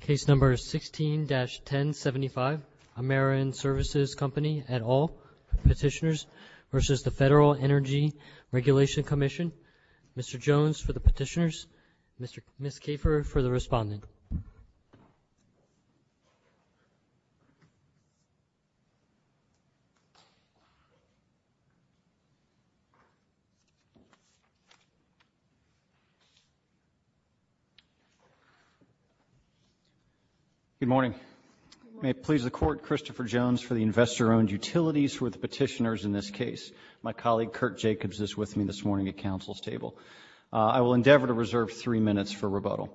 Case number 16-1075 Ameren Services Company et al. Petitioners v. Federal Energy Regulatory Commission Mr. Jones for the petitioners, Ms. Kafer for the respondent Good morning. May it please the Court, Christopher Jones for the investor-owned utilities for the petitioners in this case. My colleague, Kurt Jacobs, is with me this morning at Council's table. I will endeavor to reserve three minutes for rebuttal.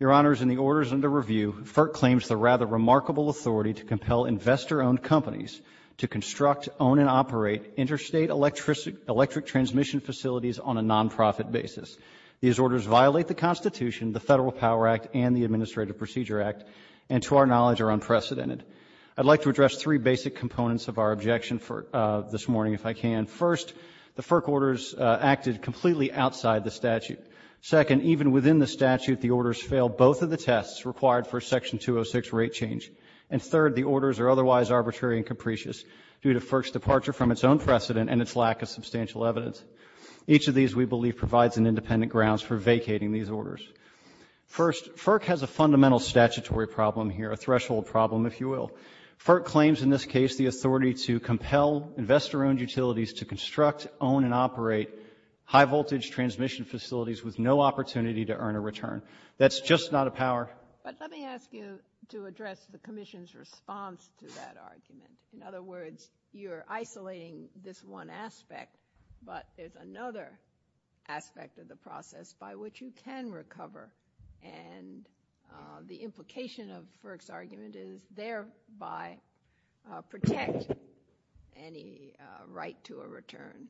Your Honors, in the orders under review, FERC claims the rather remarkable authority to compel investor-owned companies to construct, own, and operate interstate electric transmission facilities on a non-profit basis. These orders violate the Constitution, the Federal Power Act, and the Administrative Procedure Act, and to our knowledge, are unprecedented. I would like to address three basic components of our objection this morning, if I can. First, the FERC orders acted completely outside the statute. Second, even within the statute, the orders failed both of the tests required for Section 206 rate change. And third, the orders are otherwise arbitrary and capricious due to FERC's departure from its own precedent and its lack of substantial evidence. Each of these, we believe, provides an independent grounds for vacating these orders. First, FERC has a fundamental statutory problem here, a threshold problem, if you will. FERC claims in this case the authority to compel investor-owned utilities to construct, own, and operate high-voltage transmission facilities with no opportunity to earn a return. That's just not a power. But let me ask you to address the Commission's response to that argument. In other words, you're isolating this one aspect, but there's another aspect of the process by which you can recover. And the implication of FERC's argument is thereby protect any right to a return.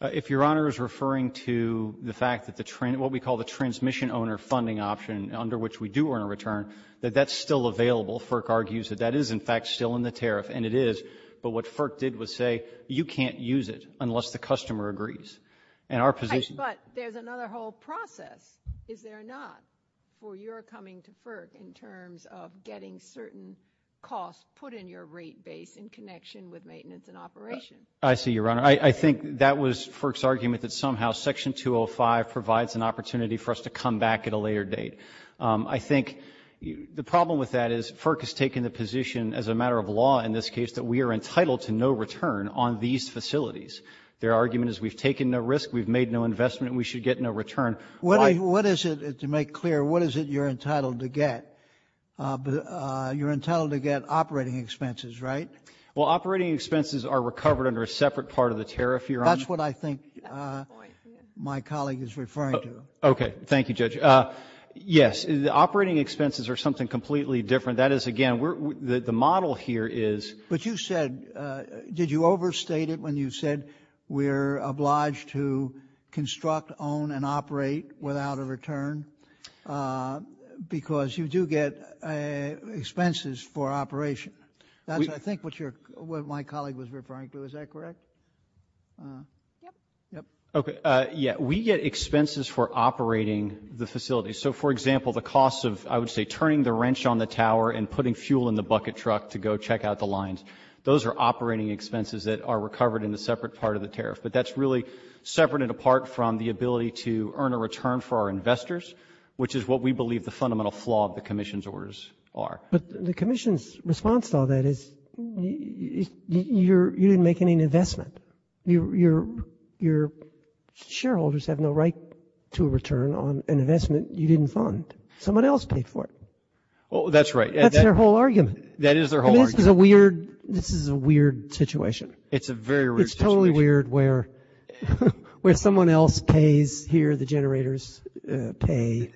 If Your Honor is referring to the fact that the what we call the transmission-owner funding option, under which we do earn a return, that that's still available, FERC argues that that is, in fact, still in the tariff. And it is. But what FERC did was say you can't use it unless the customer agrees. And our position ---- But there's another whole process, is there not, for your coming to FERC in terms of getting certain costs put in your rate base in connection with maintenance and operation? I see you, Your Honor. I think that was FERC's argument that somehow Section 205 provides an opportunity for us to come back at a later date. I think the problem with that is FERC has taken the position, as a matter of law in this case, that we are entitled to no return on these facilities. Their argument is we've taken no risk, we've made no investment, and we should get no return. What is it, to make clear, what is it you're entitled to get? You're entitled to get operating expenses, right? Well, operating expenses are recovered under a separate part of the tariff, Your Honor. That's what I think my colleague is referring to. Okay. Thank you, Judge. Yes, the operating expenses are something completely different. That is, again, the model here is ---- But you said, did you overstate it when you said we're obliged to construct, own, and operate without a return? Because you do get expenses for operation. That's, I think, what my colleague was referring to. Is that correct? Yes. Okay. We get expenses for operating the facilities. So, for example, the cost of, I would say, turning the wrench on the tower and putting fuel in the bucket truck to go check out the lines, those are operating expenses that are recovered in a separate part of the tariff. But that's really separate and apart from the ability to earn a return for our investors, which is what we believe the fundamental flaw of the commission's orders are. But the commission's response to all that is you didn't make any investment. Your shareholders have no right to a return on an investment you didn't fund. Someone else paid for it. That's right. That's their whole argument. That is their whole argument. This is a weird situation. It's a very weird situation. It's totally weird where someone else pays here, the generators pay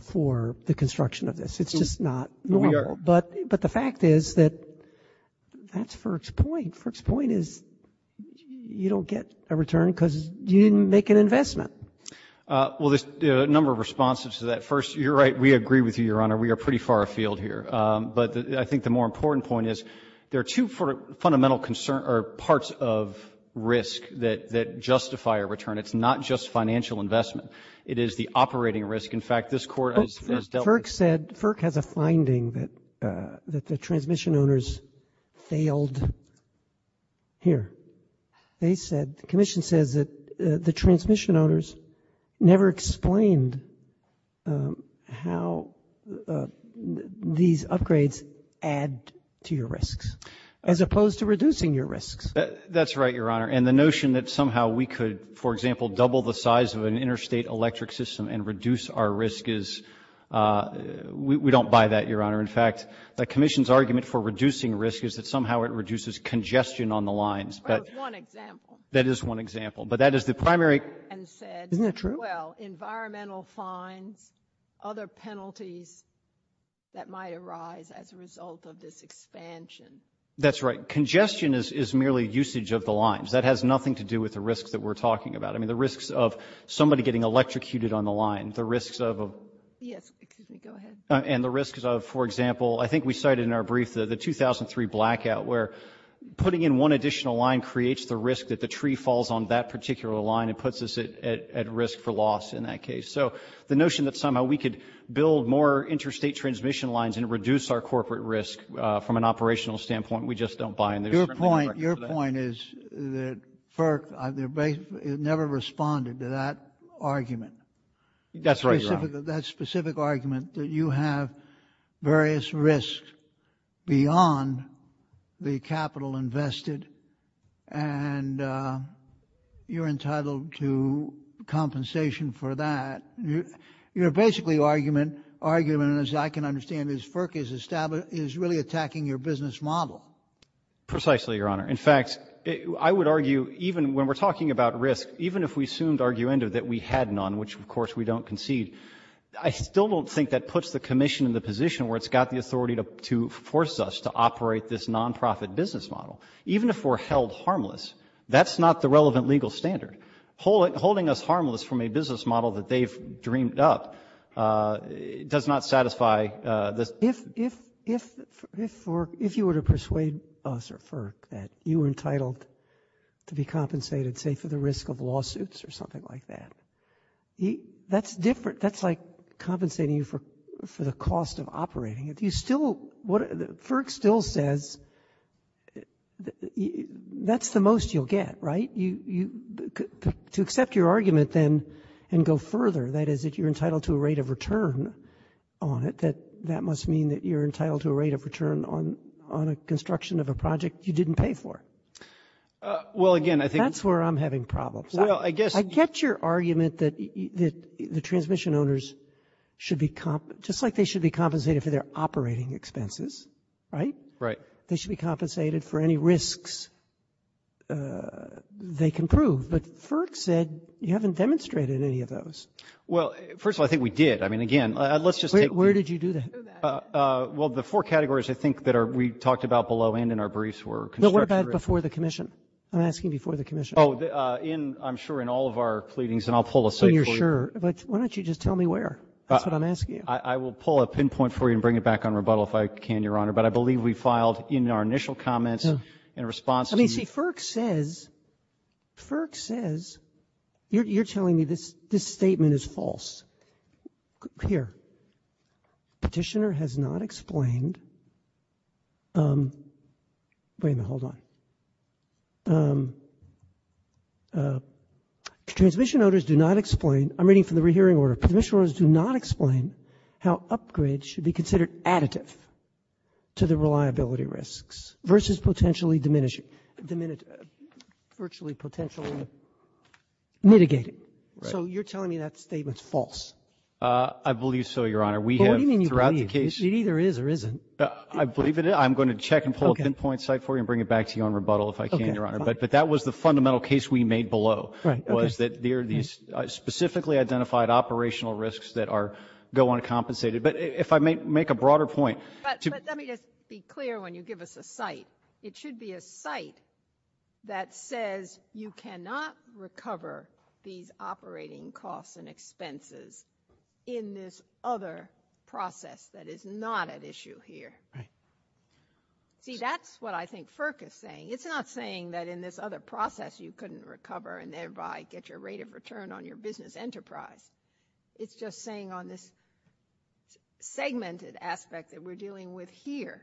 for the construction of this. It's just not normal. But the fact is that that's FERC's point. And FERC's point is you don't get a return because you didn't make an investment. Well, there's a number of responses to that. First, you're right, we agree with you, Your Honor. We are pretty far afield here. But I think the more important point is there are two fundamental parts of risk that justify a return. It's not just financial investment. It is the operating risk. In fact, this Court has dealt with it. FERC said, FERC has a finding that the transmission owners failed here. They said, the Commission says that the transmission owners never explained how these upgrades add to your risks, as opposed to reducing your risks. That's right, Your Honor. And the notion that somehow we could, for example, double the size of an interstate electric system and reduce our risk is we don't buy that, Your Honor. In fact, the Commission's argument for reducing risk is that somehow it reduces congestion on the lines. Well, that's one example. That is one example. But that is the primary — Isn't that true? Well, environmental fines, other penalties that might arise as a result of this expansion. That's right. Congestion is merely usage of the lines. That has nothing to do with the risks that we're talking about. I mean, the risks of somebody getting electrocuted on the line, the risks of — Yes, go ahead. And the risks of, for example, I think we cited in our brief the 2003 blackout, where putting in one additional line creates the risk that the tree falls on that particular line and puts us at risk for loss in that case. So the notion that somehow we could build more interstate transmission lines and reduce our corporate risk from an operational standpoint, we just don't buy. Your point is that FERC never responded to that argument. That's right, Your Honor. That specific argument that you have various risks beyond the capital invested and you're entitled to compensation for that. Your basically argument, as I can understand, is FERC is really attacking your business model. Precisely, Your Honor. In fact, I would argue even when we're talking about risk, even if we assumed arguendo that we had none, which, of course, we don't concede, I still don't think that puts the commission in the position where it's got the authority to force us to operate this nonprofit business model. Even if we're held harmless, that's not the relevant legal standard. Holding us harmless from a business model that they've dreamed up does not satisfy this. If you were to persuade us or FERC that you were entitled to be compensated, say, for the risk of lawsuits or something like that, that's different. That's like compensating you for the cost of operating it. FERC still says that's the most you'll get, right? To accept your argument then and go further, that is that you're entitled to a rate of return on it, that must mean that you're entitled to a rate of return on a construction of a project you didn't pay for. That's where I'm having problems. I get your argument that the transmission owners should be just like they should be compensated for their operating expenses, right? Right. They should be compensated for any risks they can prove. But FERC said you haven't demonstrated any of those. Well, first of all, I think we did. I mean, again, let's just take the ---- Wait. Where did you do that? Well, the four categories I think that we talked about below and in our briefs were construction ---- But what about before the commission? I'm asking before the commission. Oh, in ---- I'm sure in all of our pleadings. And I'll pull a ---- And you're sure. Why don't you just tell me where? That's what I'm asking you. I will pull a pinpoint for you and bring it back on rebuttal if I can, Your Honor. But I believe we filed in our initial comments in response to the ---- I mean, see, FERC says, FERC says you're telling me this statement is false. Here. Petitioner has not explained. Wait a minute. Hold on. Transmission owners do not explain. I'm reading from the rehearing order. Transmission owners do not explain how upgrades should be considered additive to the reliability risks versus potentially diminishing, virtually potentially mitigating. Right. So you're telling me that statement is false. I believe so, Your Honor. We have throughout the case ---- What do you mean you believe? It either is or isn't. I believe in it. I'm going to check and pull a pinpoint site for you and bring it back to you on rebuttal if I can, Your Honor. But that was the fundamental case we made below was that there are these specifically identified operational risks that go uncompensated. But if I may make a broader point ---- But let me just be clear when you give us a site. It should be a site that says you cannot recover these operating costs and see that's what I think FERC is saying. It's not saying that in this other process you couldn't recover and thereby get your rate of return on your business enterprise. It's just saying on this segmented aspect that we're dealing with here,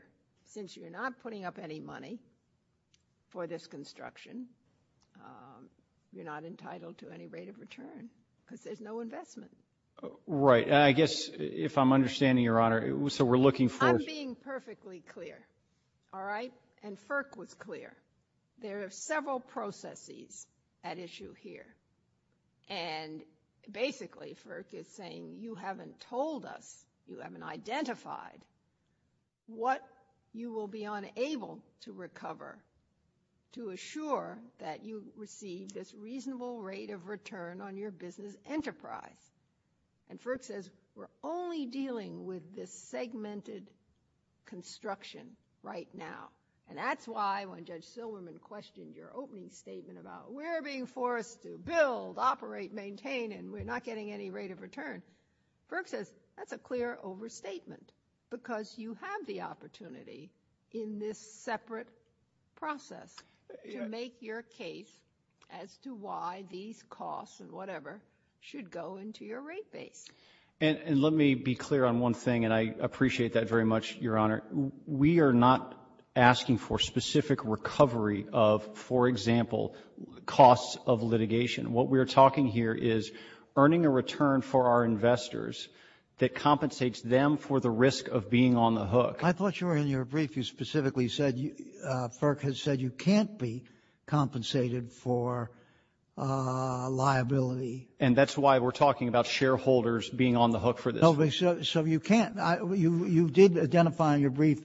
since you're not putting up any money for this construction, you're not entitled to any rate of return because there's no investment. Right. I guess if I'm understanding, Your Honor, so we're looking for ---- Let me just be clear. All right. And FERC was clear. There are several processes at issue here. And basically FERC is saying you haven't told us, you haven't identified, what you will be unable to recover to assure that you receive this reasonable rate of return on your business enterprise. And FERC says we're only dealing with this segmented construction right now. And that's why when Judge Silverman questioned your opening statement about we're being forced to build, operate, maintain, and we're not getting any rate of return, FERC says that's a clear overstatement because you have the opportunity in this separate process to make your case as to why these And let me be clear on one thing, and I appreciate that very much, Your Honor. We are not asking for specific recovery of, for example, costs of litigation. What we are talking here is earning a return for our investors that compensates them for the risk of being on the hook. I thought you were in your brief. You specifically said FERC has said you can't be compensated for liability. And that's why we're talking about shareholders being on the hook for this. So you can't. You did identify in your brief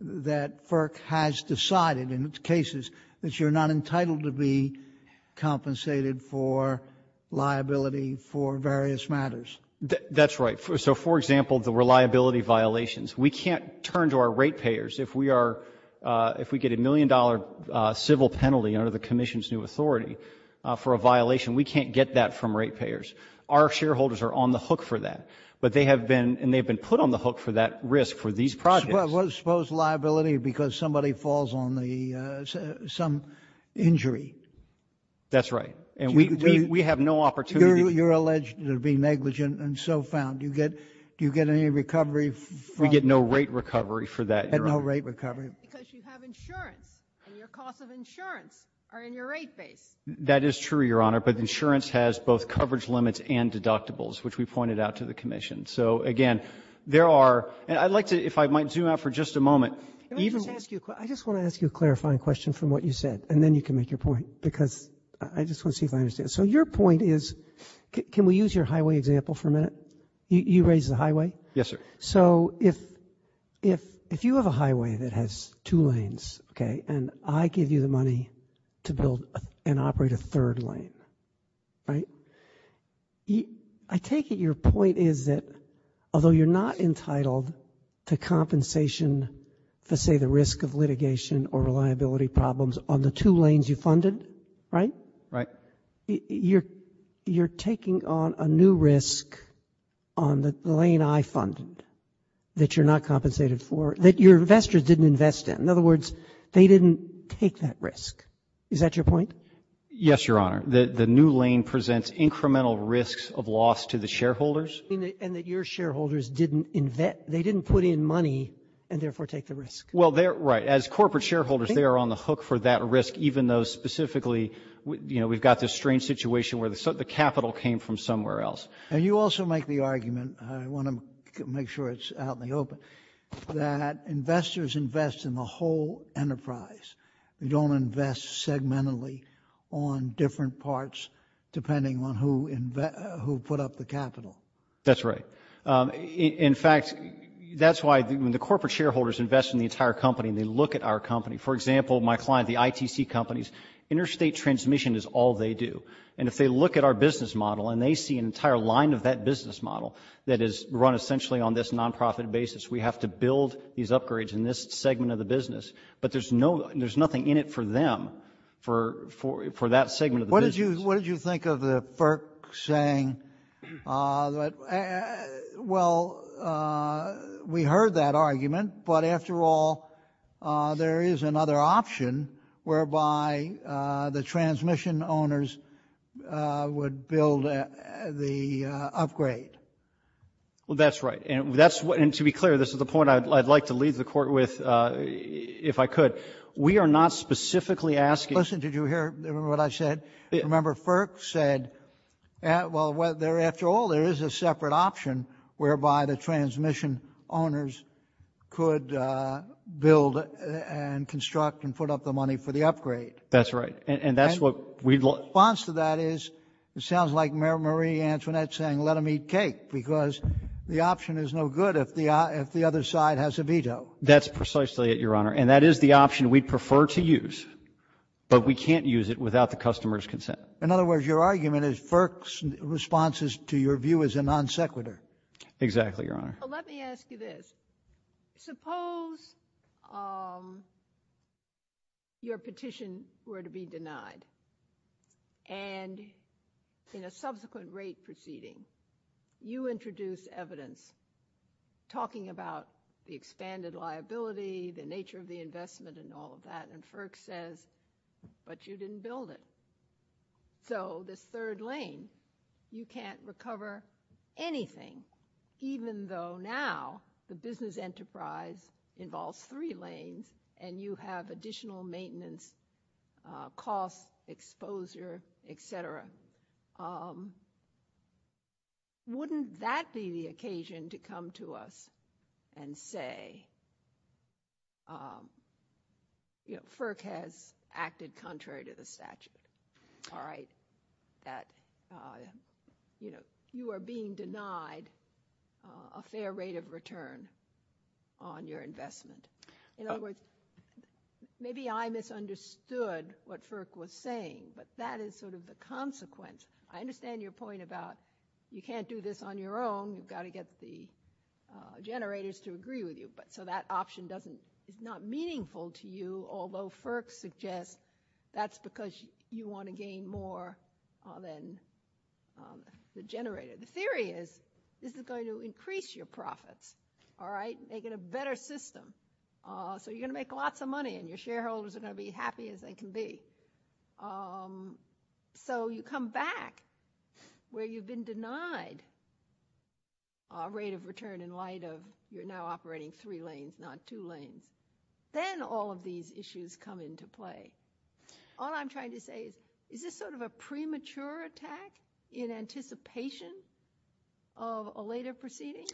that FERC has decided in its cases that you're not entitled to be compensated for liability for various matters. That's right. So, for example, the reliability violations. We can't turn to our rate payers if we get a million-dollar civil penalty under the commission's new authority for a violation. We can't get that from rate payers. Our shareholders are on the hook for that. But they have been, and they've been put on the hook for that risk for these projects. Suppose liability because somebody falls on the, some injury. That's right. And we have no opportunity. You're alleged to be negligent and so found. Do you get any recovery from that? We get no rate recovery for that, Your Honor. No rate recovery. Because you have insurance, and your costs of insurance are in your rate base. That is true, Your Honor, but insurance has both coverage limits and deductibles, which we pointed out to the commission. So, again, there are, and I'd like to, if I might zoom out for just a moment. Let me just ask you, I just want to ask you a clarifying question from what you said, and then you can make your point, because I just want to see if I understand. So your point is, can we use your highway example for a minute? You raised the highway? Yes, sir. So if you have a highway that has two lanes, okay, and I give you the money to build and operate a third lane, right? I take it your point is that although you're not entitled to compensation for, say, the risk of litigation or reliability problems on the two lanes you funded, right? Right. You're taking on a new risk on the lane I funded that you're not compensated for, that your investors didn't invest in. In other words, they didn't take that risk. Is that your point? Yes, Your Honor. The new lane presents incremental risks of loss to the shareholders. And that your shareholders didn't invest, they didn't put in money and therefore take the risk. Well, right. As corporate shareholders, they are on the hook for that risk, even though specifically, you know, we've got this strange situation where the capital came from somewhere else. And you also make the argument, I want to make sure it's out in the open, that investors invest in the whole enterprise. They don't invest segmentally on different parts depending on who put up the capital. That's right. In fact, that's why when the corporate shareholders invest in the entire company and they look at our company, for example, my client, the ITC companies, interstate transmission is all they do. And if they look at our business model and they see an entire line of that business model that is run essentially on this nonprofit basis, we have to build these upgrades in this segment of the business. But there's nothing in it for them, for that segment of the business. What did you think of the FERC saying, well, we heard that argument, but after all, there is another option whereby the transmission owners would build the upgrade? Well, that's right. And to be clear, this is the point I'd like to leave the Court with, if I could. We are not specifically asking. Listen, did you hear what I said? Remember, FERC said, well, after all, there is a separate option whereby the transmission owners could build and construct and put up the money for the upgrade. That's right. And that's what we'd like. The response to that is, it sounds like Marie Antoinette saying let them eat cake because the option is no good if the other side has a veto. That's precisely it, Your Honor. And that is the option we'd prefer to use, but we can't use it without the customer's consent. In other words, your argument is FERC's response to your view is a non sequitur. Exactly, Your Honor. Let me ask you this. Suppose your petition were to be denied, and in a subsequent rate proceeding, you introduce evidence talking about the expanded liability, the nature of the investment, and all of that, and FERC says, but you didn't build it. So this third lane, you can't recover anything, even though now the business enterprise involves three lanes and you have additional maintenance costs, exposure, et cetera. Wouldn't that be the occasion to come to us and say, FERC has acted contrary to the statute, that you are being denied a fair rate of return on your investment? In other words, maybe I misunderstood what FERC was saying, but that is sort of the consequence. I understand your point about you can't do this on your own. You've got to get the generators to agree with you. So that option is not meaningful to you, although FERC suggests that's because you want to gain more than the generator. The theory is this is going to increase your profits, all right, make it a better system. So you're going to make lots of money and your shareholders are going to be as happy as they can be. So you come back where you've been denied a rate of return in light of you're now operating three lanes, not two lanes. Then all of these issues come into play. All I'm trying to say is, is this sort of a premature attack in anticipation of a later proceeding?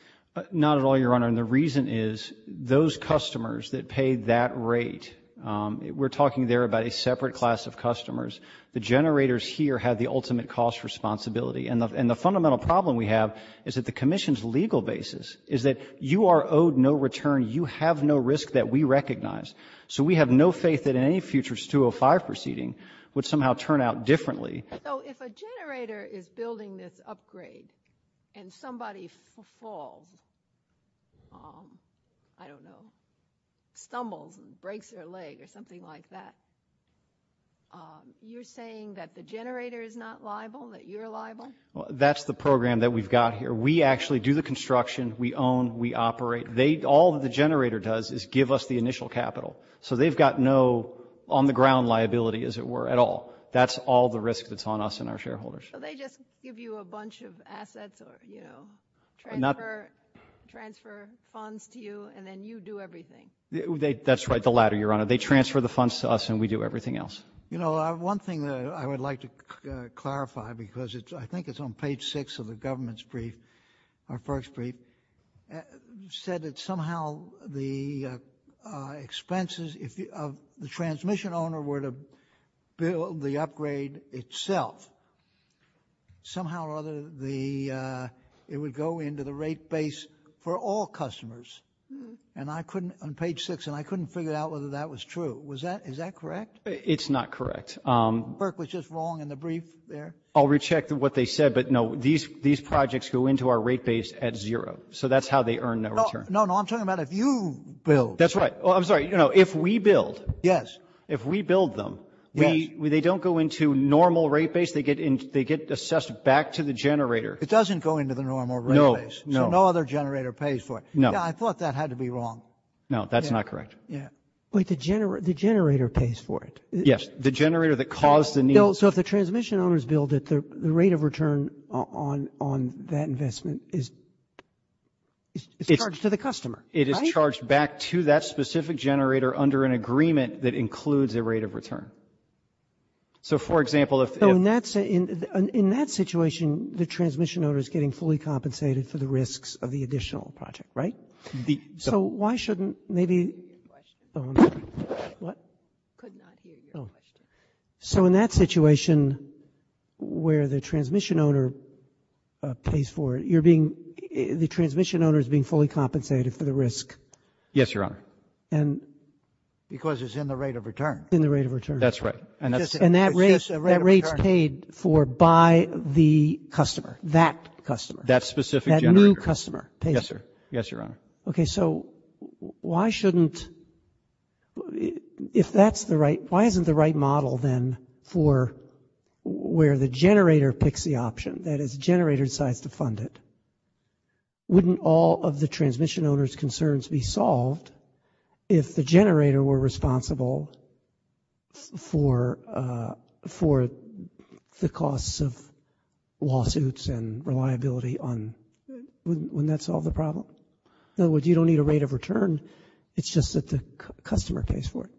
Not at all, Your Honor. And the reason is those customers that pay that rate, we're talking there about a separate class of customers. The generators here have the ultimate cost responsibility. And the fundamental problem we have is that the Commission's legal basis is that you are owed no return. You have no risk that we recognize. So we have no faith that in any future 205 proceeding would somehow turn out differently. So if a generator is building this upgrade and somebody falls, I don't know, stumbles and breaks their leg or something like that, you're saying that the generator is not liable, that you're liable? That's the program that we've got here. We actually do the construction. We own. We operate. All that the generator does is give us the initial capital. So they've got no on-the-ground liability, as it were, at all. That's all the risk that's on us and our shareholders. So they just give you a bunch of assets or, you know, transfer funds to you, and then you do everything? That's right. The latter, Your Honor. They transfer the funds to us, and we do everything else. You know, one thing that I would like to clarify, because I think it's on page 6 of the government's brief, our first brief, said that somehow the expenses of the transmission owner were to build the upgrade itself. Somehow or other, it would go into the rate base for all customers. And I couldn't, on page 6, and I couldn't figure out whether that was true. Is that correct? It's not correct. The work was just wrong in the brief there? I'll recheck what they said, but, no, these projects go into our rate base at zero. So that's how they earn their return. No, no. I'm talking about if you build. That's right. I'm sorry. You know, if we build. Yes. If we build them, they don't go into normal rate base. They get assessed back to the generator. It doesn't go into the normal rate base. No, no. So no other generator pays for it. No. Yeah, I thought that had to be wrong. No, that's not correct. Yeah. Wait, the generator pays for it? Yes, the generator that caused the need. So if the transmission owners build it, the rate of return on that investment is charged to the customer, right? It is charged back to that specific generator under an agreement that includes a rate of return. So, for example, if. In that situation, the transmission owner is getting fully compensated for the risks of the additional project, right? So why shouldn't maybe. I couldn't hear your question. What? I could not hear your question. So in that situation where the transmission owner pays for it, you're being. The transmission owner is being fully compensated for the risk. Yes, Your Honor. And. Because it's in the rate of return. In the rate of return. That's right. And that rate is paid for by the customer, that customer. That specific generator. That new customer. Yes, sir. Yes, Your Honor. Okay, so why shouldn't. If that's the right. Why isn't the right model then for where the generator picks the option that is generator decides to fund it? Wouldn't all of the transmission owners concerns be solved if the generator were responsible for. For the costs of lawsuits and reliability on when that's all the problem. No, you don't need a rate of return. It's just that the customer pays for it.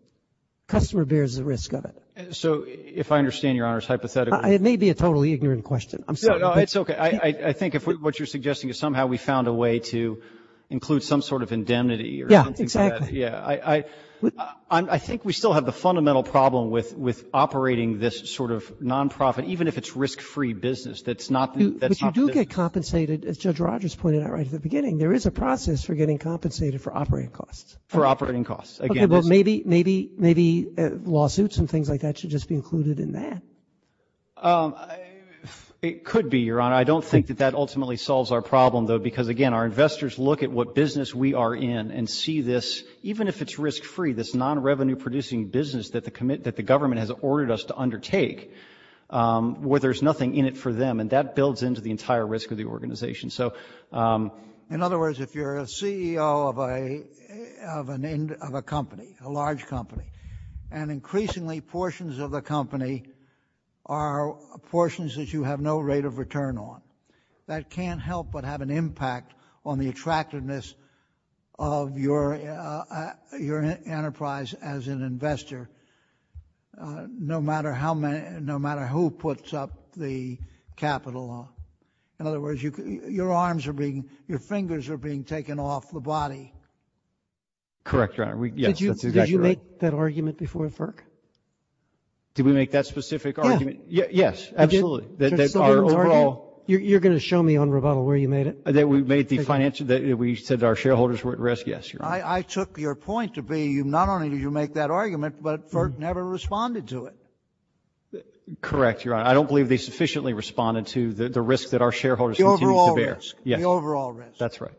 Customer bears the risk of it. So if I understand Your Honor's hypothetical. It may be a totally ignorant question. I'm sorry. It's okay. I think if what you're suggesting is somehow we found a way to include some sort of indemnity. Yeah, exactly. Yeah. I think we still have the fundamental problem with operating this sort of nonprofit, even if it's risk-free business. That's not. But you do get compensated, as Judge Rogers pointed out right at the beginning. There is a process for getting compensated for operating costs. For operating costs. Okay, well, maybe lawsuits and things like that should just be included in that. It could be, Your Honor. I don't think that that ultimately solves our problem, though, because, again, our investors look at what business we are in and see this, even if it's risk-free, this non-revenue-producing business that the government has ordered us to undertake, where there's nothing in it for them. And that builds into the entire risk of the organization. In other words, if you're a CEO of a company, a large company, and increasingly portions of the company are portions that you have no rate of return on, that can't help but have an impact on the attractiveness of your enterprise as an investor, no matter who puts up the capital. In other words, your fingers are being taken off the body. Correct, Your Honor. Yes, that's exactly right. Did you make that argument before FERC? Did we make that specific argument? Yeah. Yes, absolutely. You're going to show me on rebuttal where you made it? That we said our shareholders were at risk? Yes, Your Honor. I took your point to be not only did you make that argument, but FERC never responded to it. Correct, Your Honor. I don't believe they sufficiently responded to the risk that our shareholders continue to bear. The overall risk. Yes, that's right.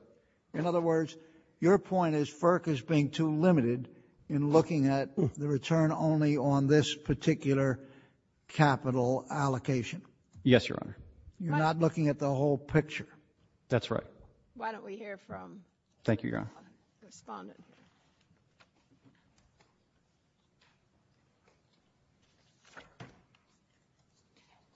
In other words, your point is FERC is being too limited in looking at the return only on this particular capital allocation. Yes, Your Honor. You're not looking at the whole picture. That's right. Why don't we hear from the respondent? Thank you, Your Honor.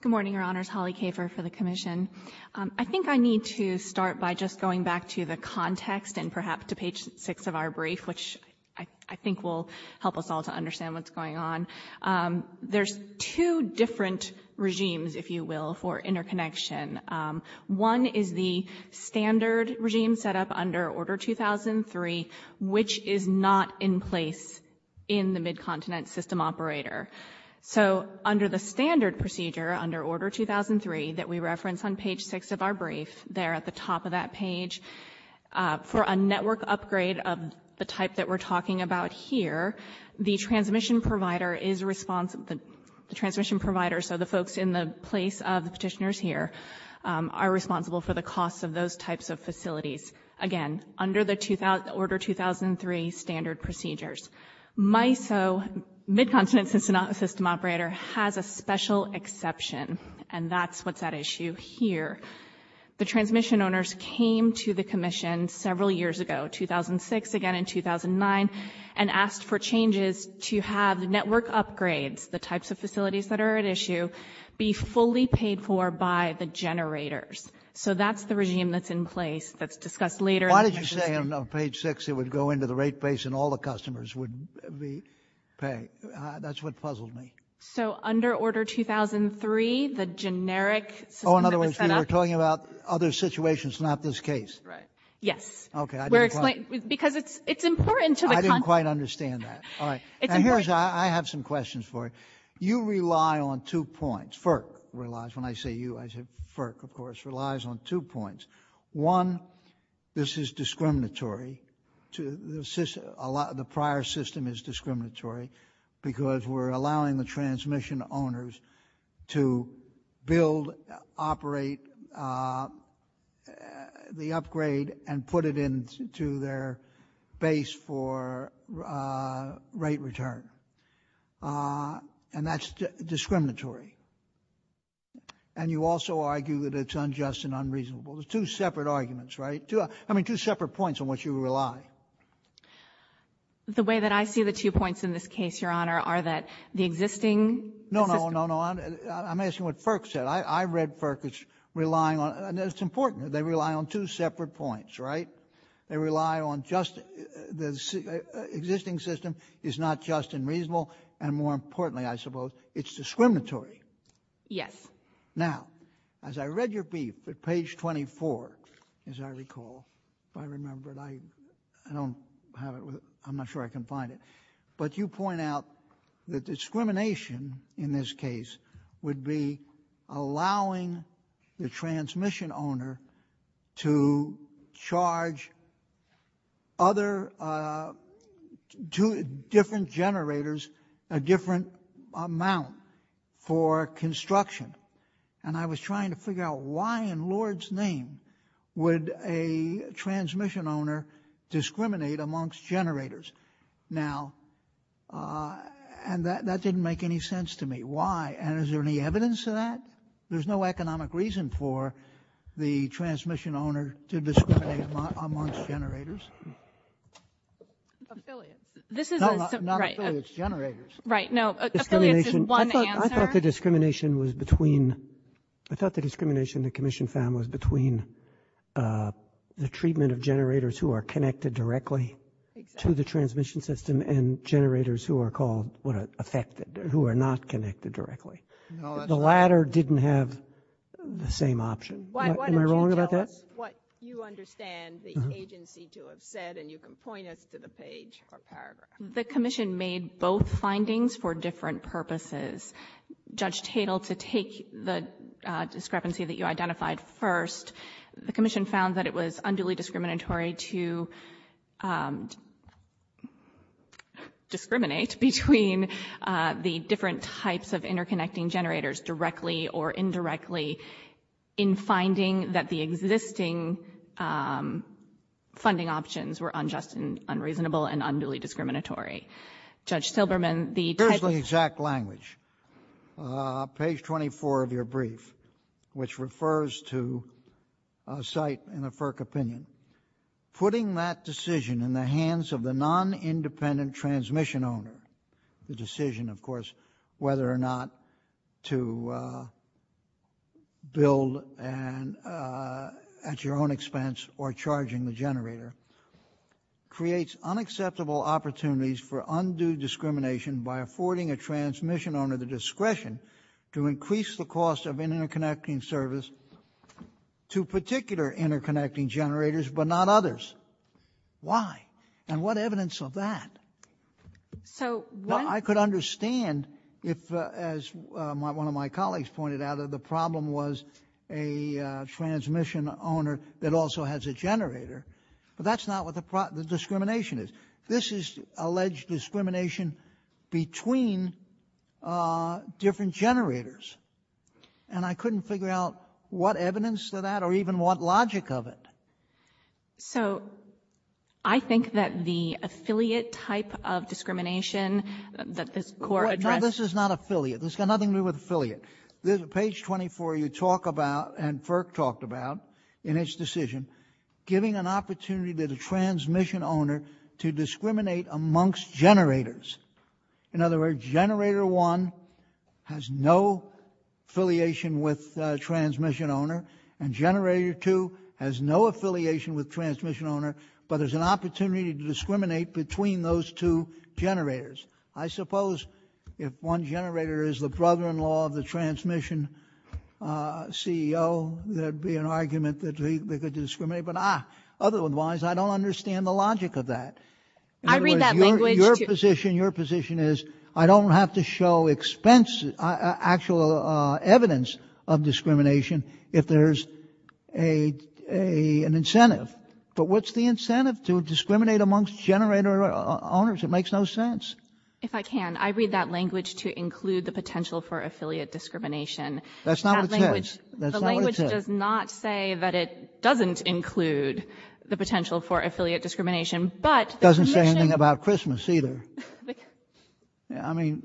Good morning, Your Honors. Holly Kafer for the Commission. I think I need to start by just going back to the context and perhaps to page 6 of our brief, which I think will help us all to understand what's going on. There's two different regimes, if you will, for interconnection. One is the standard regime set up under Order 2003, which is not in place in the Mid-Continent System Operator. Under the standard procedure, under Order 2003, that we reference on page 6 of our brief, there at the top of that page, for a network upgrade of the type that we're talking about here, the transmission provider is responsible. The transmission provider, so the folks in the place of the petitioners here, are responsible for the cost of those types of facilities. Again, under the Order 2003 standard procedures. MISO, Mid-Continent System Operator, has a special exception, and that's what's at issue here. The transmission owners came to the Commission several years ago, 2006, again in 2009, and asked for changes to have network upgrades, the types of facilities that are at issue, be fully paid for by the generators. So that's the regime that's in place that's discussed later. Why did you say on page 6 it would go into the rate base and all the customers would be paid? That's what puzzled me. So under Order 2003, the generic system that was set up. Oh, in other words, we were talking about other situations, not this case. Right. Yes. Okay, I didn't quite. Because it's important to the context. I didn't quite understand that. All right. And here's, I have some questions for you. You rely on two points. FERC relies, when I say you, I say FERC, of course, relies on two points. One, this is discriminatory to the prior system is discriminatory because we're allowing the transmission owners to build, operate the upgrade and put it into their base for rate return. And that's discriminatory. And you also argue that it's unjust and unreasonable. There's two separate arguments, right? I mean, two separate points on which you rely. The way that I see the two points in this case, Your Honor, are that the existing system. No, no, no, no. I'm asking what FERC said. I read FERC as relying on, and it's important, they rely on two separate points, right? They rely on just the existing system is not just and reasonable. And more importantly, I suppose, it's discriminatory. Yes. Now, as I read your brief at page 24, as I recall, if I remember it, I don't have it. I'm not sure I can find it. But you point out that discrimination in this case would be allowing the transmission owner to charge other two different generators a different amount for construction. And I was trying to figure out why in Lord's name would a transmission owner discriminate amongst generators. Now, and that didn't make any sense to me. Why? And is there any evidence of that? There's no economic reason for the transmission owner to discriminate amongst generators. Affiliates. No, not affiliates. Generators. Right. No, affiliates is one answer. I thought the discrimination was between, I thought the discrimination the commission found was between the treatment of generators who are connected directly to the transmission system and generators who are called affected, who are not connected directly. The latter didn't have the same option. Am I wrong about that? What you understand the agency to have said, and you can point us to the page or paragraph. The commission made both findings for different purposes. Judge Tatel, to take the discrepancy that you identified first, the commission found that it was unduly discriminatory to discriminate between the different types of interconnecting generators directly or indirectly in finding that the existing funding options were unjust and unreasonable and unduly discriminatory. Judge Silberman, the type of... Here's the exact language. Page 24 of your brief, which refers to a site in a FERC opinion. Putting that decision in the hands of the non-independent transmission owner, the decision, of course, whether or not to build at your own expense or charging the generator, creates unacceptable opportunities for undue discrimination by affording a transmission owner the discretion to increase the cost of interconnecting service to particular interconnecting generators, but not others. Why? And what evidence of that? I could understand if, as one of my colleagues pointed out, the problem was a transmission owner that also has a generator, but that's not what the discrimination is. This is alleged discrimination between different generators, and I couldn't figure out what evidence of that or even what logic of it. So I think that the affiliate type of discrimination that this Court addressed... No, this is not affiliate. This has got nothing to do with affiliate. Page 24, you talk about, and FERC talked about in its decision, giving an opportunity to the transmission owner to discriminate amongst generators. In other words, generator one has no affiliation with transmission owner, and generator two has no affiliation with transmission owner, but there's an opportunity to discriminate between those two generators. I suppose if one generator is the brother-in-law of the transmission CEO, there'd be an argument that they could discriminate. But otherwise, I don't understand the logic of that. I read that language to... In other words, your position is, I don't have to show actual evidence of discrimination if there's an incentive. But what's the incentive? To discriminate amongst generator owners? It makes no sense. If I can, I read that language to include the potential for affiliate discrimination. That's not what it says. The language does not say that it doesn't include the potential for affiliate discrimination, but the commission... It doesn't say anything about Christmas either. I mean...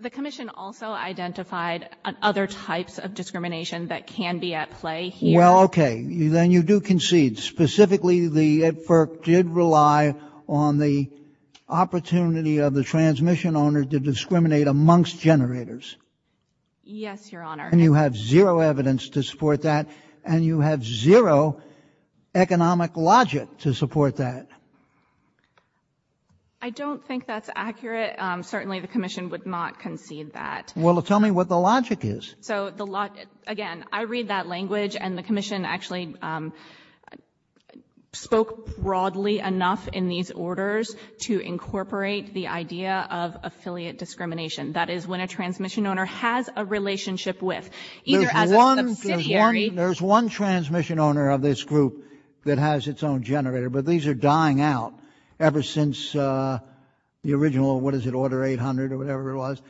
The commission also identified other types of discrimination that can be at play here. Well, okay. Then you do concede. Specifically, the FERC did rely on the opportunity of the transmission owner to discriminate amongst generators. Yes, Your Honor. And you have zero evidence to support that, and you have zero economic logic to support that. I don't think that's accurate. Certainly, the commission would not concede that. Well, tell me what the logic is. Again, I read that language, and the commission actually spoke broadly enough in these orders to incorporate the idea of affiliate discrimination. That is, when a transmission owner has a relationship with, either as a subsidiary... There's one transmission owner of this group that has its own generator, but these are dying out ever since the original, what is it, Order 800 or whatever it was.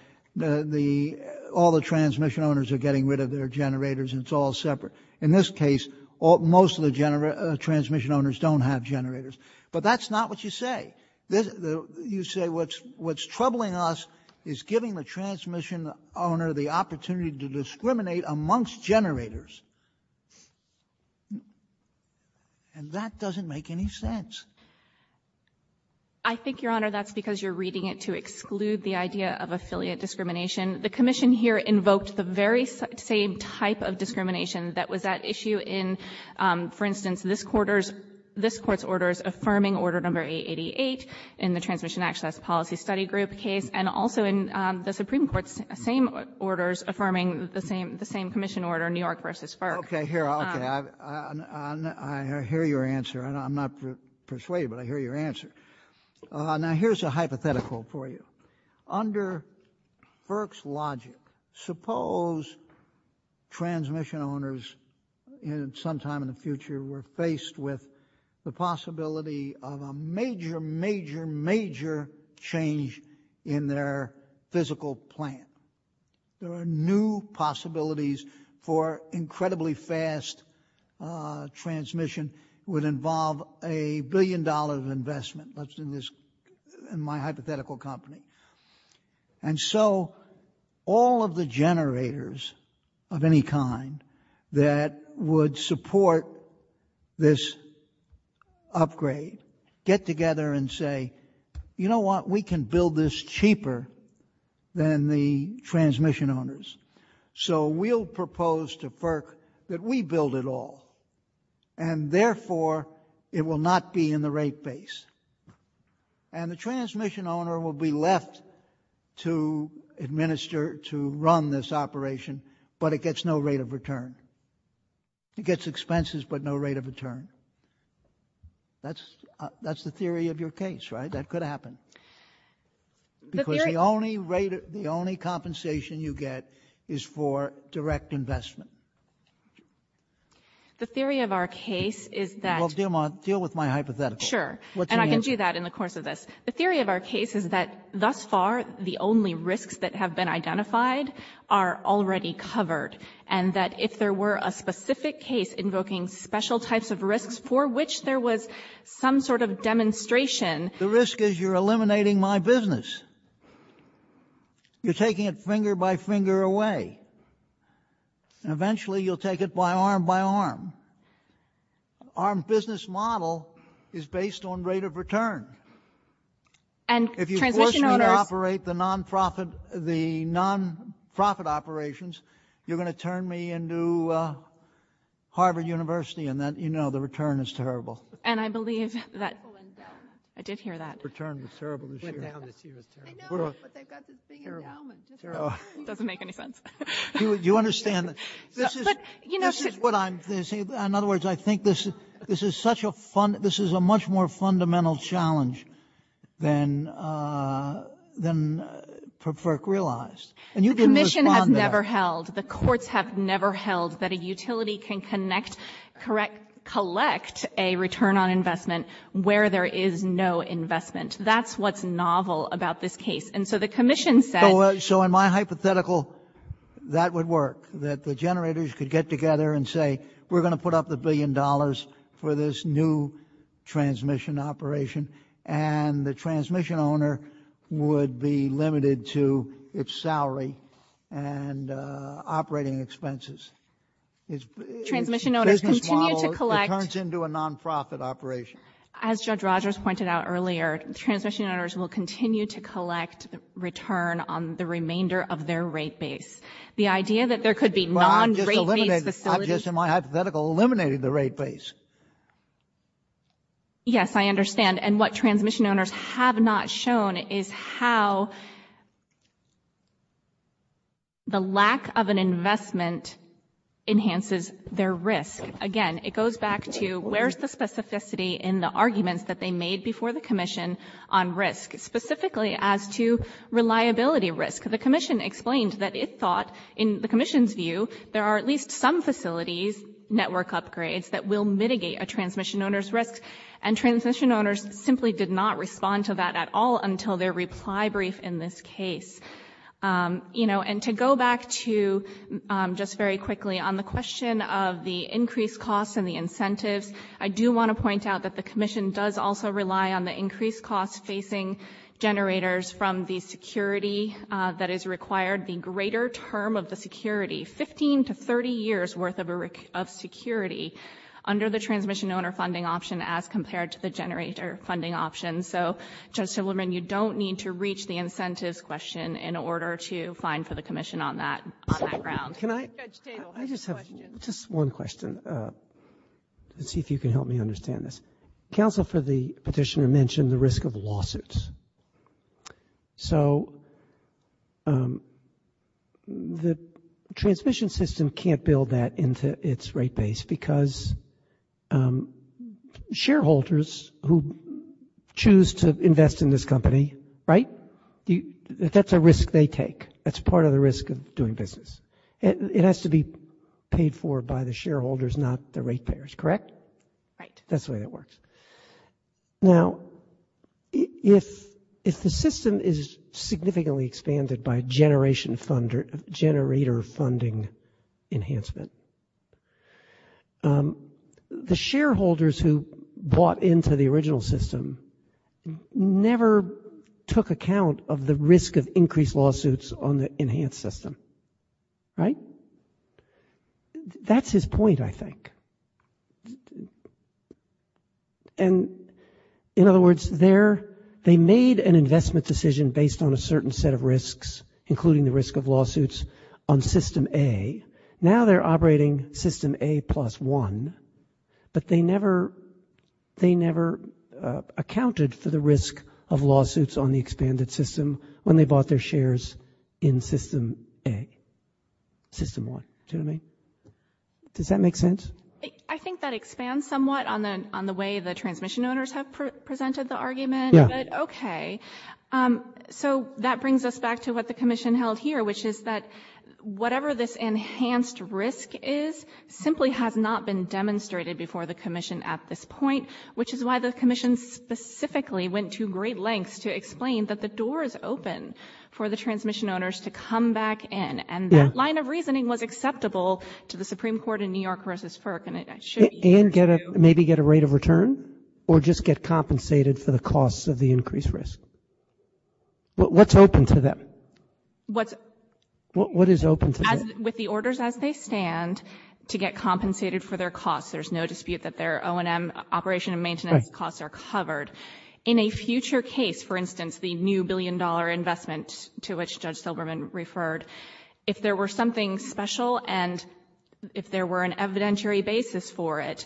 All the transmission owners are getting rid of their generators, and it's all separate. In this case, most of the transmission owners don't have generators. But that's not what you say. You say what's troubling us is giving the transmission owner the opportunity to discriminate amongst generators. And that doesn't make any sense. I think, Your Honor, that's because you're reading it to exclude the idea of affiliate discrimination. The commission here invoked the very same type of discrimination that was at issue in, for instance, this Court's orders affirming Order No. 888 in the Transmission Access Policy Study Group case, and also in the Supreme Court's same orders affirming the same commission order, New York v. FERC. Okay. I hear your answer. I'm not persuaded, but I hear your answer. Now, here's a hypothetical for you. Under FERC's logic, suppose transmission owners sometime in the future were faced with the possibility of a major, major, major change in their physical plant. There are new possibilities for incredibly fast transmission. It would involve a billion dollars of investment in my hypothetical company. And so all of the generators of any kind that would support this upgrade get together and say, you know what? We can build this cheaper than the transmission owners. So we'll propose to FERC that we build it all. And therefore, it will not be in the rate base. And the transmission owner will be left to administer, to run this operation, but it gets no rate of return. It gets expenses but no rate of return. That's the theory of your case, right? That could happen. Because the only rate, the only compensation you get is for direct investment. The theory of our case is that — Well, deal with my hypothetical. Sure. And I can do that in the course of this. The theory of our case is that thus far, the only risks that have been identified are already covered, and that if there were a specific case invoking special types of risks for which there was some sort of demonstration — The risk is you're eliminating my business. You're taking it finger by finger away. And eventually, you'll take it by arm by arm. Our business model is based on rate of return. And transmission owners — If you force me to operate the non-profit operations, you're going to turn me into Harvard University and then, you know, the return is terrible. And I believe that — I did hear that. Return was terrible this year. Went down this year was terrible. I know, but they've got this thing endowment. Terrible. Doesn't make any sense. You understand that this is — But, you know — This is what I'm — In other words, I think this is such a — this is a much more fundamental challenge than FERC realized. And you didn't respond to that. The commission has never held, the courts have never held, that a utility can collect a return on investment where there is no investment. That's what's novel about this case. And so the commission said — So in my hypothetical, that would work, that the generators could get together and say, we're going to put up the billion dollars for this new transmission operation, and the transmission owner would be limited to its salary and operating expenses. Its business model — Transmission owners continue to collect — It turns into a non-profit operation. As Judge Rogers pointed out earlier, will continue to collect return on the remainder of their rate base. The idea that there could be non-rate-based facilities — Well, I'm just eliminating — I'm just, in my hypothetical, eliminating the rate base. Yes, I understand. And what transmission owners have not shown is how the lack of an investment enhances their risk. Again, it goes back to where's the specificity in the arguments that they made before the commission on risk, specifically as to reliability risk. The commission explained that it thought, in the commission's view, there are at least some facilities, network upgrades, that will mitigate a transmission owner's risk. And transmission owners simply did not respond to that at all until their reply brief in this case. And to go back to, just very quickly, on the question of the increased costs and the incentives, I do want to point out that the commission does also rely on the increased costs facing generators from the security that is required. The greater term of the security, 15 to 30 years worth of security, under the transmission owner funding option as compared to the generator funding option. So, Judge Silverman, you don't need to reach the incentives question in order to find for the commission on that ground. Can I just have just one question? Let's see if you can help me understand this. Counsel for the petitioner mentioned the risk of lawsuits. So, the transmission system can't build that into its rate base because shareholders who choose to invest in this company, right, that's a risk they take. That's part of the risk of doing business. It has to be paid for by the shareholders, not the rate payers, correct? Right. That's the way that works. Now, if the system is significantly expanded by generator funding enhancement, the shareholders who bought into the original system never took account of the risk of increased lawsuits on the enhanced system. Right? That's his point, I think. And, in other words, they made an investment decision based on a certain set of risks, including the risk of lawsuits on system A. Now they're operating system A plus one, but they never accounted for the risk of lawsuits on the expanded system when they bought their shares in system A. Does that make sense? I think that expands somewhat on the way the transmission owners have presented the argument. Yeah. Okay. So, that brings us back to what the commission held here, which is that whatever this enhanced risk is simply has not been demonstrated before the commission at this point, which is why the commission specifically went to great lengths to explain that the door is open for the transmission owners to come back in. And that line of reasoning was acceptable to the Supreme Court in New York versus FERC, and it should be. And maybe get a rate of return, or just get compensated for the costs of the increased risk? What's open to them? What is open to them? With the orders as they stand, to get compensated for their costs. There's no dispute that their O&M operation and maintenance costs are covered. In a future case, for instance, the new billion-dollar investment to which Judge Silberman referred, if there were something special and if there were an evidentiary basis for it,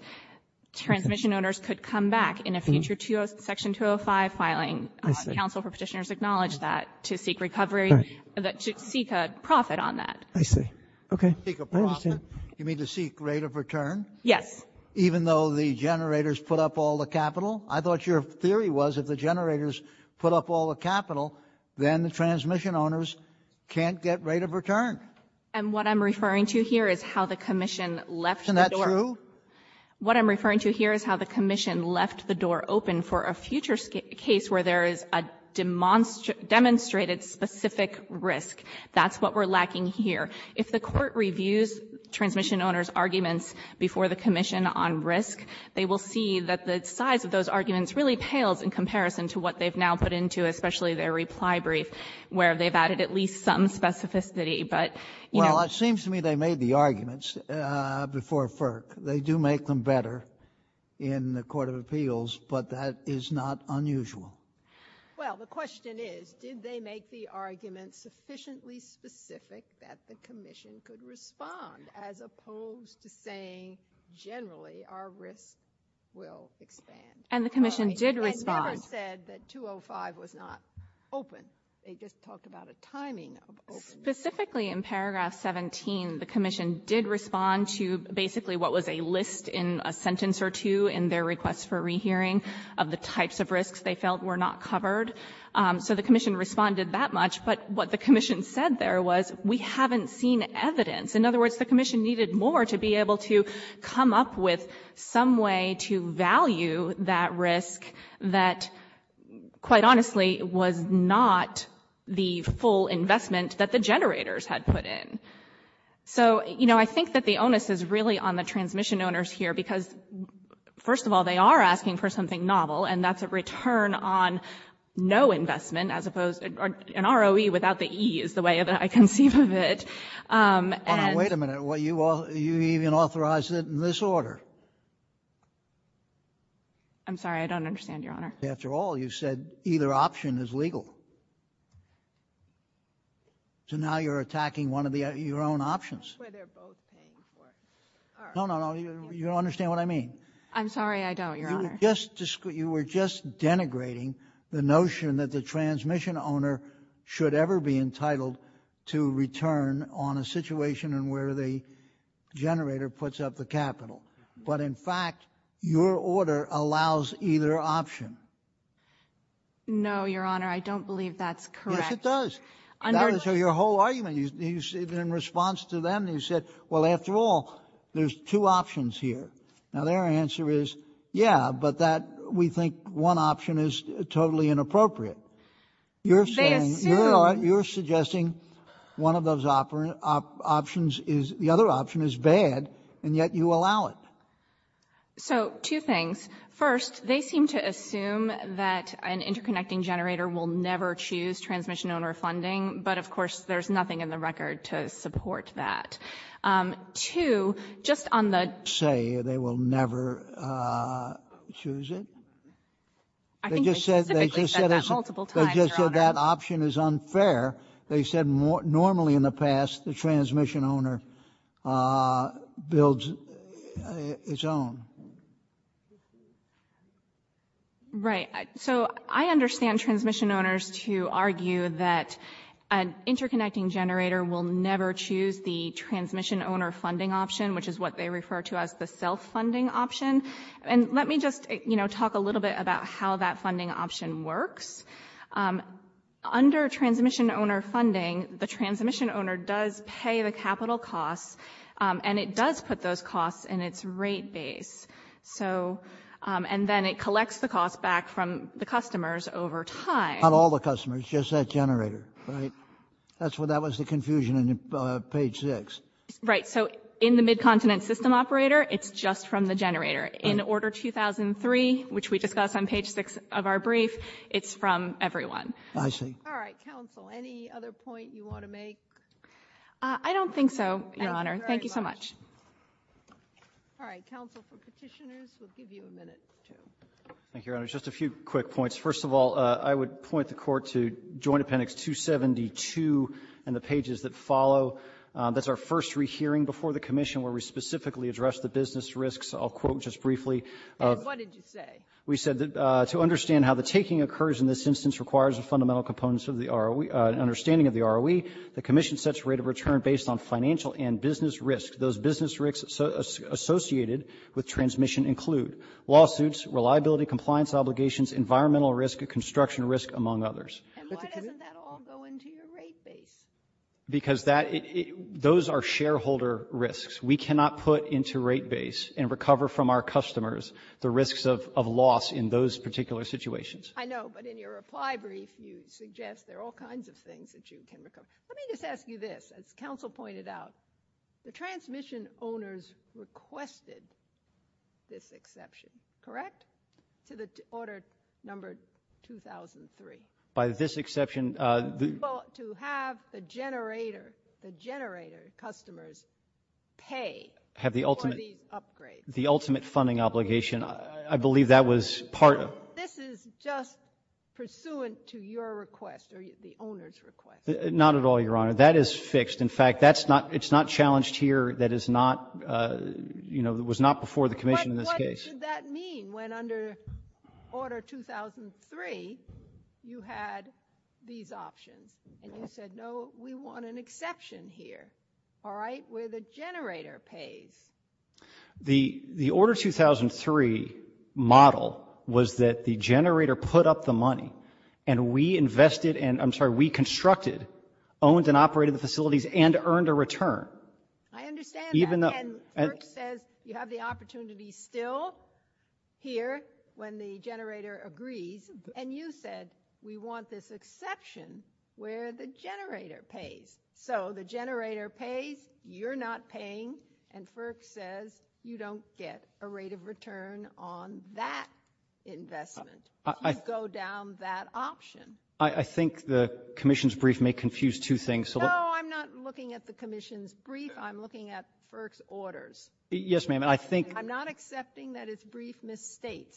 transmission owners could come back in a future Section 205 filing. Counsel for Petitioners acknowledged that to seek recovery, to seek a profit on that. I see. Okay. You mean to seek rate of return? Yes. Even though the generators put up all the capital? I thought your theory was if the generators put up all the capital, then the transmission owners can't get rate of return. And what I'm referring to here is how the Commission left the door. Isn't that true? What I'm referring to here is how the Commission left the door open for a future case where there is a demonstrated specific risk. That's what we're lacking here. If the Court reviews transmission owners' arguments before the Commission on risk, they will see that the size of those arguments really pales in comparison to what they've now put into, especially their reply brief, where they've added at least some specificity. Well, it seems to me they made the arguments before FERC. They do make them better in the Court of Appeals, but that is not unusual. Well, the question is did they make the arguments sufficiently specific that the Commission could respond as opposed to saying generally our risk will expand? And the Commission did respond. It never said that 205 was not open. They just talked about a timing of opening. Specifically in paragraph 17, the Commission did respond to basically what was a list in a sentence or two in their request for rehearing of the types of risks they felt were not covered. So the Commission responded that much. But what the Commission said there was we haven't seen evidence. In other words, the Commission needed more to be able to come up with some way to value that risk that quite honestly was not the full investment that the generators had put in. So, you know, I think that the onus is really on the transmission owners here because, first of all, they are asking for something novel, and that's a return on no investment, as opposed to an ROE without the E is the way that I conceive of it. Wait a minute. You even authorized it in this order. I'm sorry. I don't understand, Your Honor. After all, you said either option is legal. So now you're attacking one of your own options. No, no, no. You don't understand what I mean. I'm sorry. I don't, Your Honor. You were just denigrating the notion that the transmission owner should ever be entitled to return on a situation in where the generator puts up the capital. But, in fact, your order allows either option. No, Your Honor. I don't believe that's correct. Yes, it does. That is your whole argument. In response to them, you said, well, after all, there's two options here. Now, their answer is, yeah, but that we think one option is totally inappropriate. You're saying, Your Honor, you're suggesting one of those options is, the other option is bad, and yet you allow it. So, two things. First, they seem to assume that an interconnecting generator will never choose transmission owner funding, but, of course, there's nothing in the record to support that. Two, just on the- Say they will never choose it? I think they specifically said that multiple times, Your Honor. They just said that option is unfair. They said normally in the past, the transmission owner builds its own. Right. So, I understand transmission owners to argue that an interconnecting generator will never choose the transmission owner funding option, which is what they refer to as the self-funding option. And let me just, you know, talk a little bit about how that funding option works. Under transmission owner funding, the transmission owner does pay the capital costs, and it does put those costs in its rate base. So, and then it collects the costs back from the customers over time. Not all the customers, just that generator, right? That's what, that was the confusion on page six. Right. So, in the Mid-Continent System Operator, it's just from the generator. In Order 2003, which we discussed on page six of our brief, it's from everyone. I see. All right. Counsel, any other point you want to make? I don't think so, Your Honor. Thank you so much. All right. Counsel, for Petitioners, we'll give you a minute. Thank you, Your Honor. Just a few quick points. First of all, I would point the Court to Joint Appendix 272 and the pages that follow. That's our first rehearing before the Commission where we specifically address the business risks. I'll quote just briefly. And what did you say? We said that to understand how the taking occurs in this instance requires a fundamental component of the ROE, an understanding of the ROE, the Commission sets rate of return based on financial and business risk. Those business risks associated with transmission include lawsuits, reliability, compliance obligations, environmental risk, construction risk, among others. And why doesn't that all go into your rate base? Because that, those are shareholder risks. We cannot put into rate base and recover from our customers the risks of loss in those particular situations. I know. But in your reply brief, you suggest there are all kinds of things that you can recover. Let me just ask you this. As Counsel pointed out, the transmission owners requested this exception, correct? To the order number 2003. By this exception, the — Well, to have the generator, the generator customers pay for the upgrade. Have the ultimate funding obligation. I believe that was part of — This is just pursuant to your request or the owner's request. Not at all, Your Honor. That is fixed. In fact, that's not, it's not challenged here. That is not, you know, it was not before the Commission in this case. But what did that mean when under order 2003 you had these options? And you said, no, we want an exception here, all right, where the generator pays. The order 2003 model was that the generator put up the money and we invested, and I'm sorry, we constructed, owned and operated the facilities and earned a return. I understand that. And FERC says you have the opportunity still here when the generator agrees. And you said we want this exception where the generator pays. So the generator pays, you're not paying, and FERC says you don't get a rate of return on that investment. You go down that option. I think the Commission's brief may confuse two things. No, I'm not looking at the Commission's brief. I'm looking at FERC's orders. Yes, ma'am, I think — I'm not accepting that its brief misstates.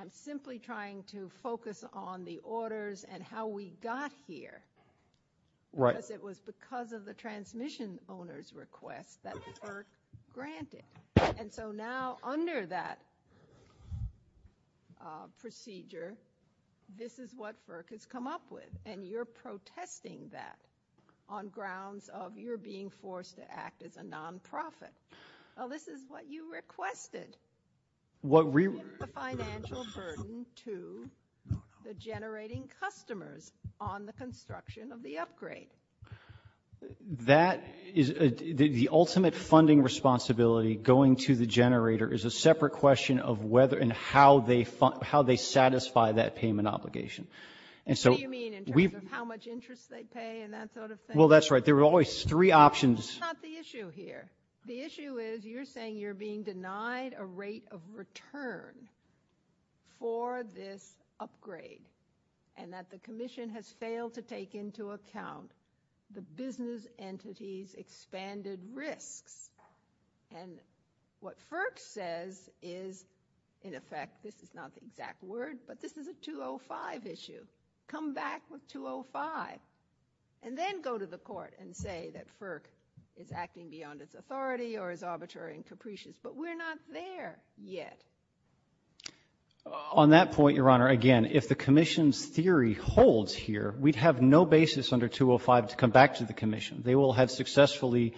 I'm simply trying to focus on the orders and how we got here. Right. Because it was because of the transmission owner's request that FERC granted. And so now under that procedure, this is what FERC has come up with, and you're protesting that on grounds of your being forced to act as a nonprofit. Well, this is what you requested. We want the financial burden to the generating customers on the construction of the upgrade. That is the ultimate funding responsibility going to the generator is a separate question of whether and how they satisfy that payment obligation. What do you mean in terms of how much interest they pay and that sort of thing? Well, that's right. There are always three options. That's not the issue here. The issue is you're saying you're being denied a rate of return for this upgrade and that the Commission has failed to take into account the business entity's expanded risks. And what FERC says is, in effect, this is not the exact word, but this is a 205 issue. Come back with 205, and then go to the Court and say that FERC is acting beyond its authority or is arbitrary and capricious. But we're not there yet. On that point, Your Honor, again, if the Commission's theory holds here, we'd have no basis under 205 to come back to the Commission. They will have successfully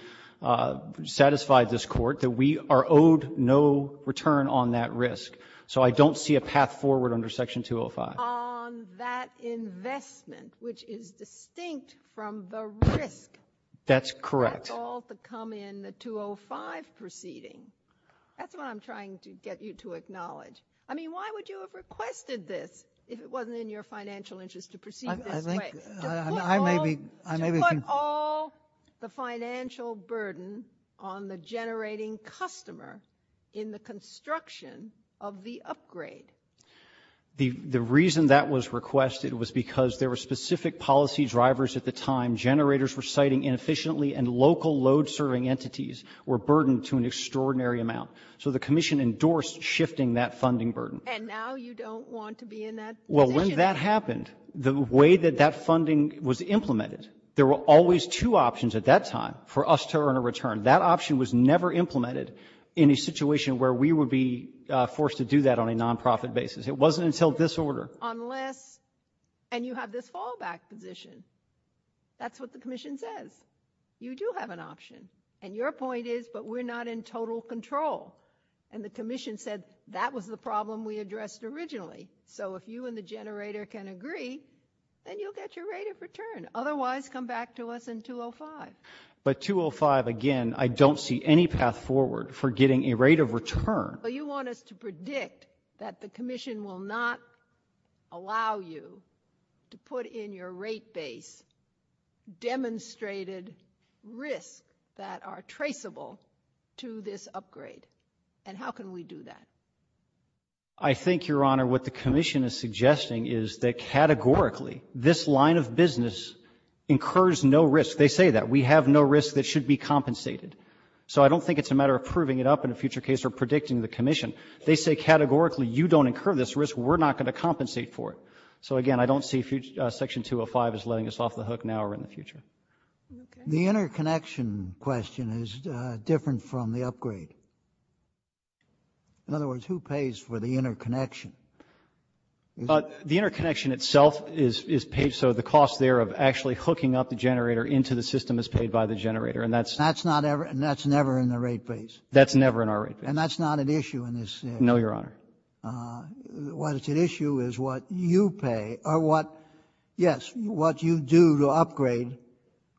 satisfied this Court that we are owed no return on that risk. So I don't see a path forward under Section 205. On that investment, which is distinct from the risk, that's all to come in the 205 proceeding. That's what I'm trying to get you to acknowledge. I mean, why would you have requested this if it wasn't in your financial interest to proceed this way? To put all the financial burden on the generating customer in the construction of the upgrade. The reason that was requested was because there were specific policy drivers at the time, generators were siting inefficiently, and local load serving entities were burdened to an extraordinary amount. So the Commission endorsed shifting that funding burden. And now you don't want to be in that position. Well, when that happened, the way that that funding was implemented, there were always two options at that time for us to earn a return. That option was never implemented in a situation where we would be forced to do that on a non-profit basis. It wasn't until this order. And you have this fallback position. That's what the Commission says. You do have an option. And your point is, but we're not in total control. And the Commission said that was the problem we addressed originally. So if you and the generator can agree, then you'll get your rate of return. Otherwise, come back to us in 205. But 205, again, I don't see any path forward for getting a rate of return. But you want us to predict that the Commission will not allow you to put in your rate base demonstrated risks that are traceable to this upgrade. And how can we do that? I think, Your Honor, what the Commission is suggesting is that categorically, this line of business incurs no risk. They say that. We have no risk that should be compensated. So I don't think it's a matter of proving it up in a future case or predicting the Commission. They say categorically, you don't incur this risk. We're not going to compensate for it. So, again, I don't see Section 205 as letting us off the hook now or in the future. The interconnection question is different from the upgrade. In other words, who pays for the interconnection? The interconnection itself is paid. So the cost there of actually hooking up the generator into the system is paid by the generator. And that's never in the rate base. That's never in our rate base. And that's not an issue in this case. No, Your Honor. What's at issue is what you pay or what, yes, what you do to upgrade,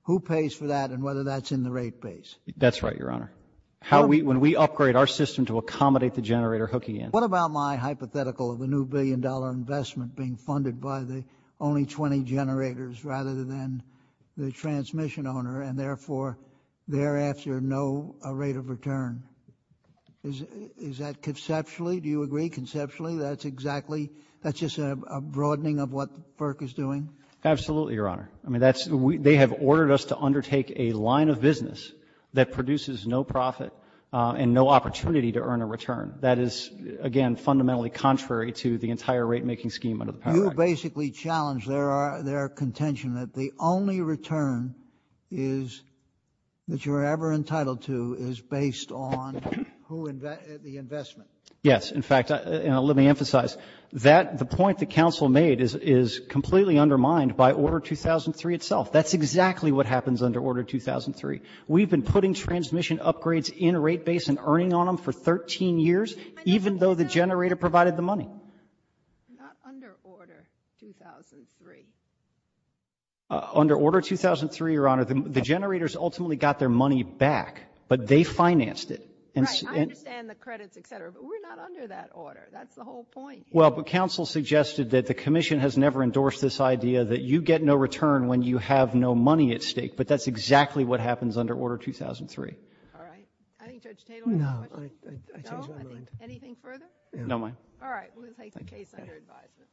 who pays for that and whether that's in the rate base. That's right, Your Honor. When we upgrade our system to accommodate the generator hooking in. What about my hypothetical of a new billion-dollar investment being funded by the only 20 generators rather than the transmission owner and, therefore, thereafter, no rate of return? Is that conceptually? Do you agree conceptually that's exactly, that's just a broadening of what FERC is doing? Absolutely, Your Honor. I mean, they have ordered us to undertake a line of business that produces no profit and no opportunity to earn a return. That is, again, fundamentally contrary to the entire rate-making scheme under the Power Act. You basically challenge their contention that the only return is, that you're ever entitled to is based on the investment. Yes. In fact, let me emphasize that the point the counsel made is completely undermined by Order 2003 itself. That's exactly what happens under Order 2003. We've been putting transmission upgrades in rate base and earning on them for 13 years, even though the generator provided the money. Not under Order 2003. Under Order 2003, Your Honor, the generators ultimately got their money back, but they financed it. Right. I understand the credits, et cetera, but we're not under that order. That's the whole point. Well, but counsel suggested that the commission has never endorsed this idea that you get no return when you have no money at stake, but that's exactly what happens under Order 2003. All right. I think Judge Taylor has a question. No. I change my mind. Anything further? No, ma'am. All right. We'll take the case under advisement.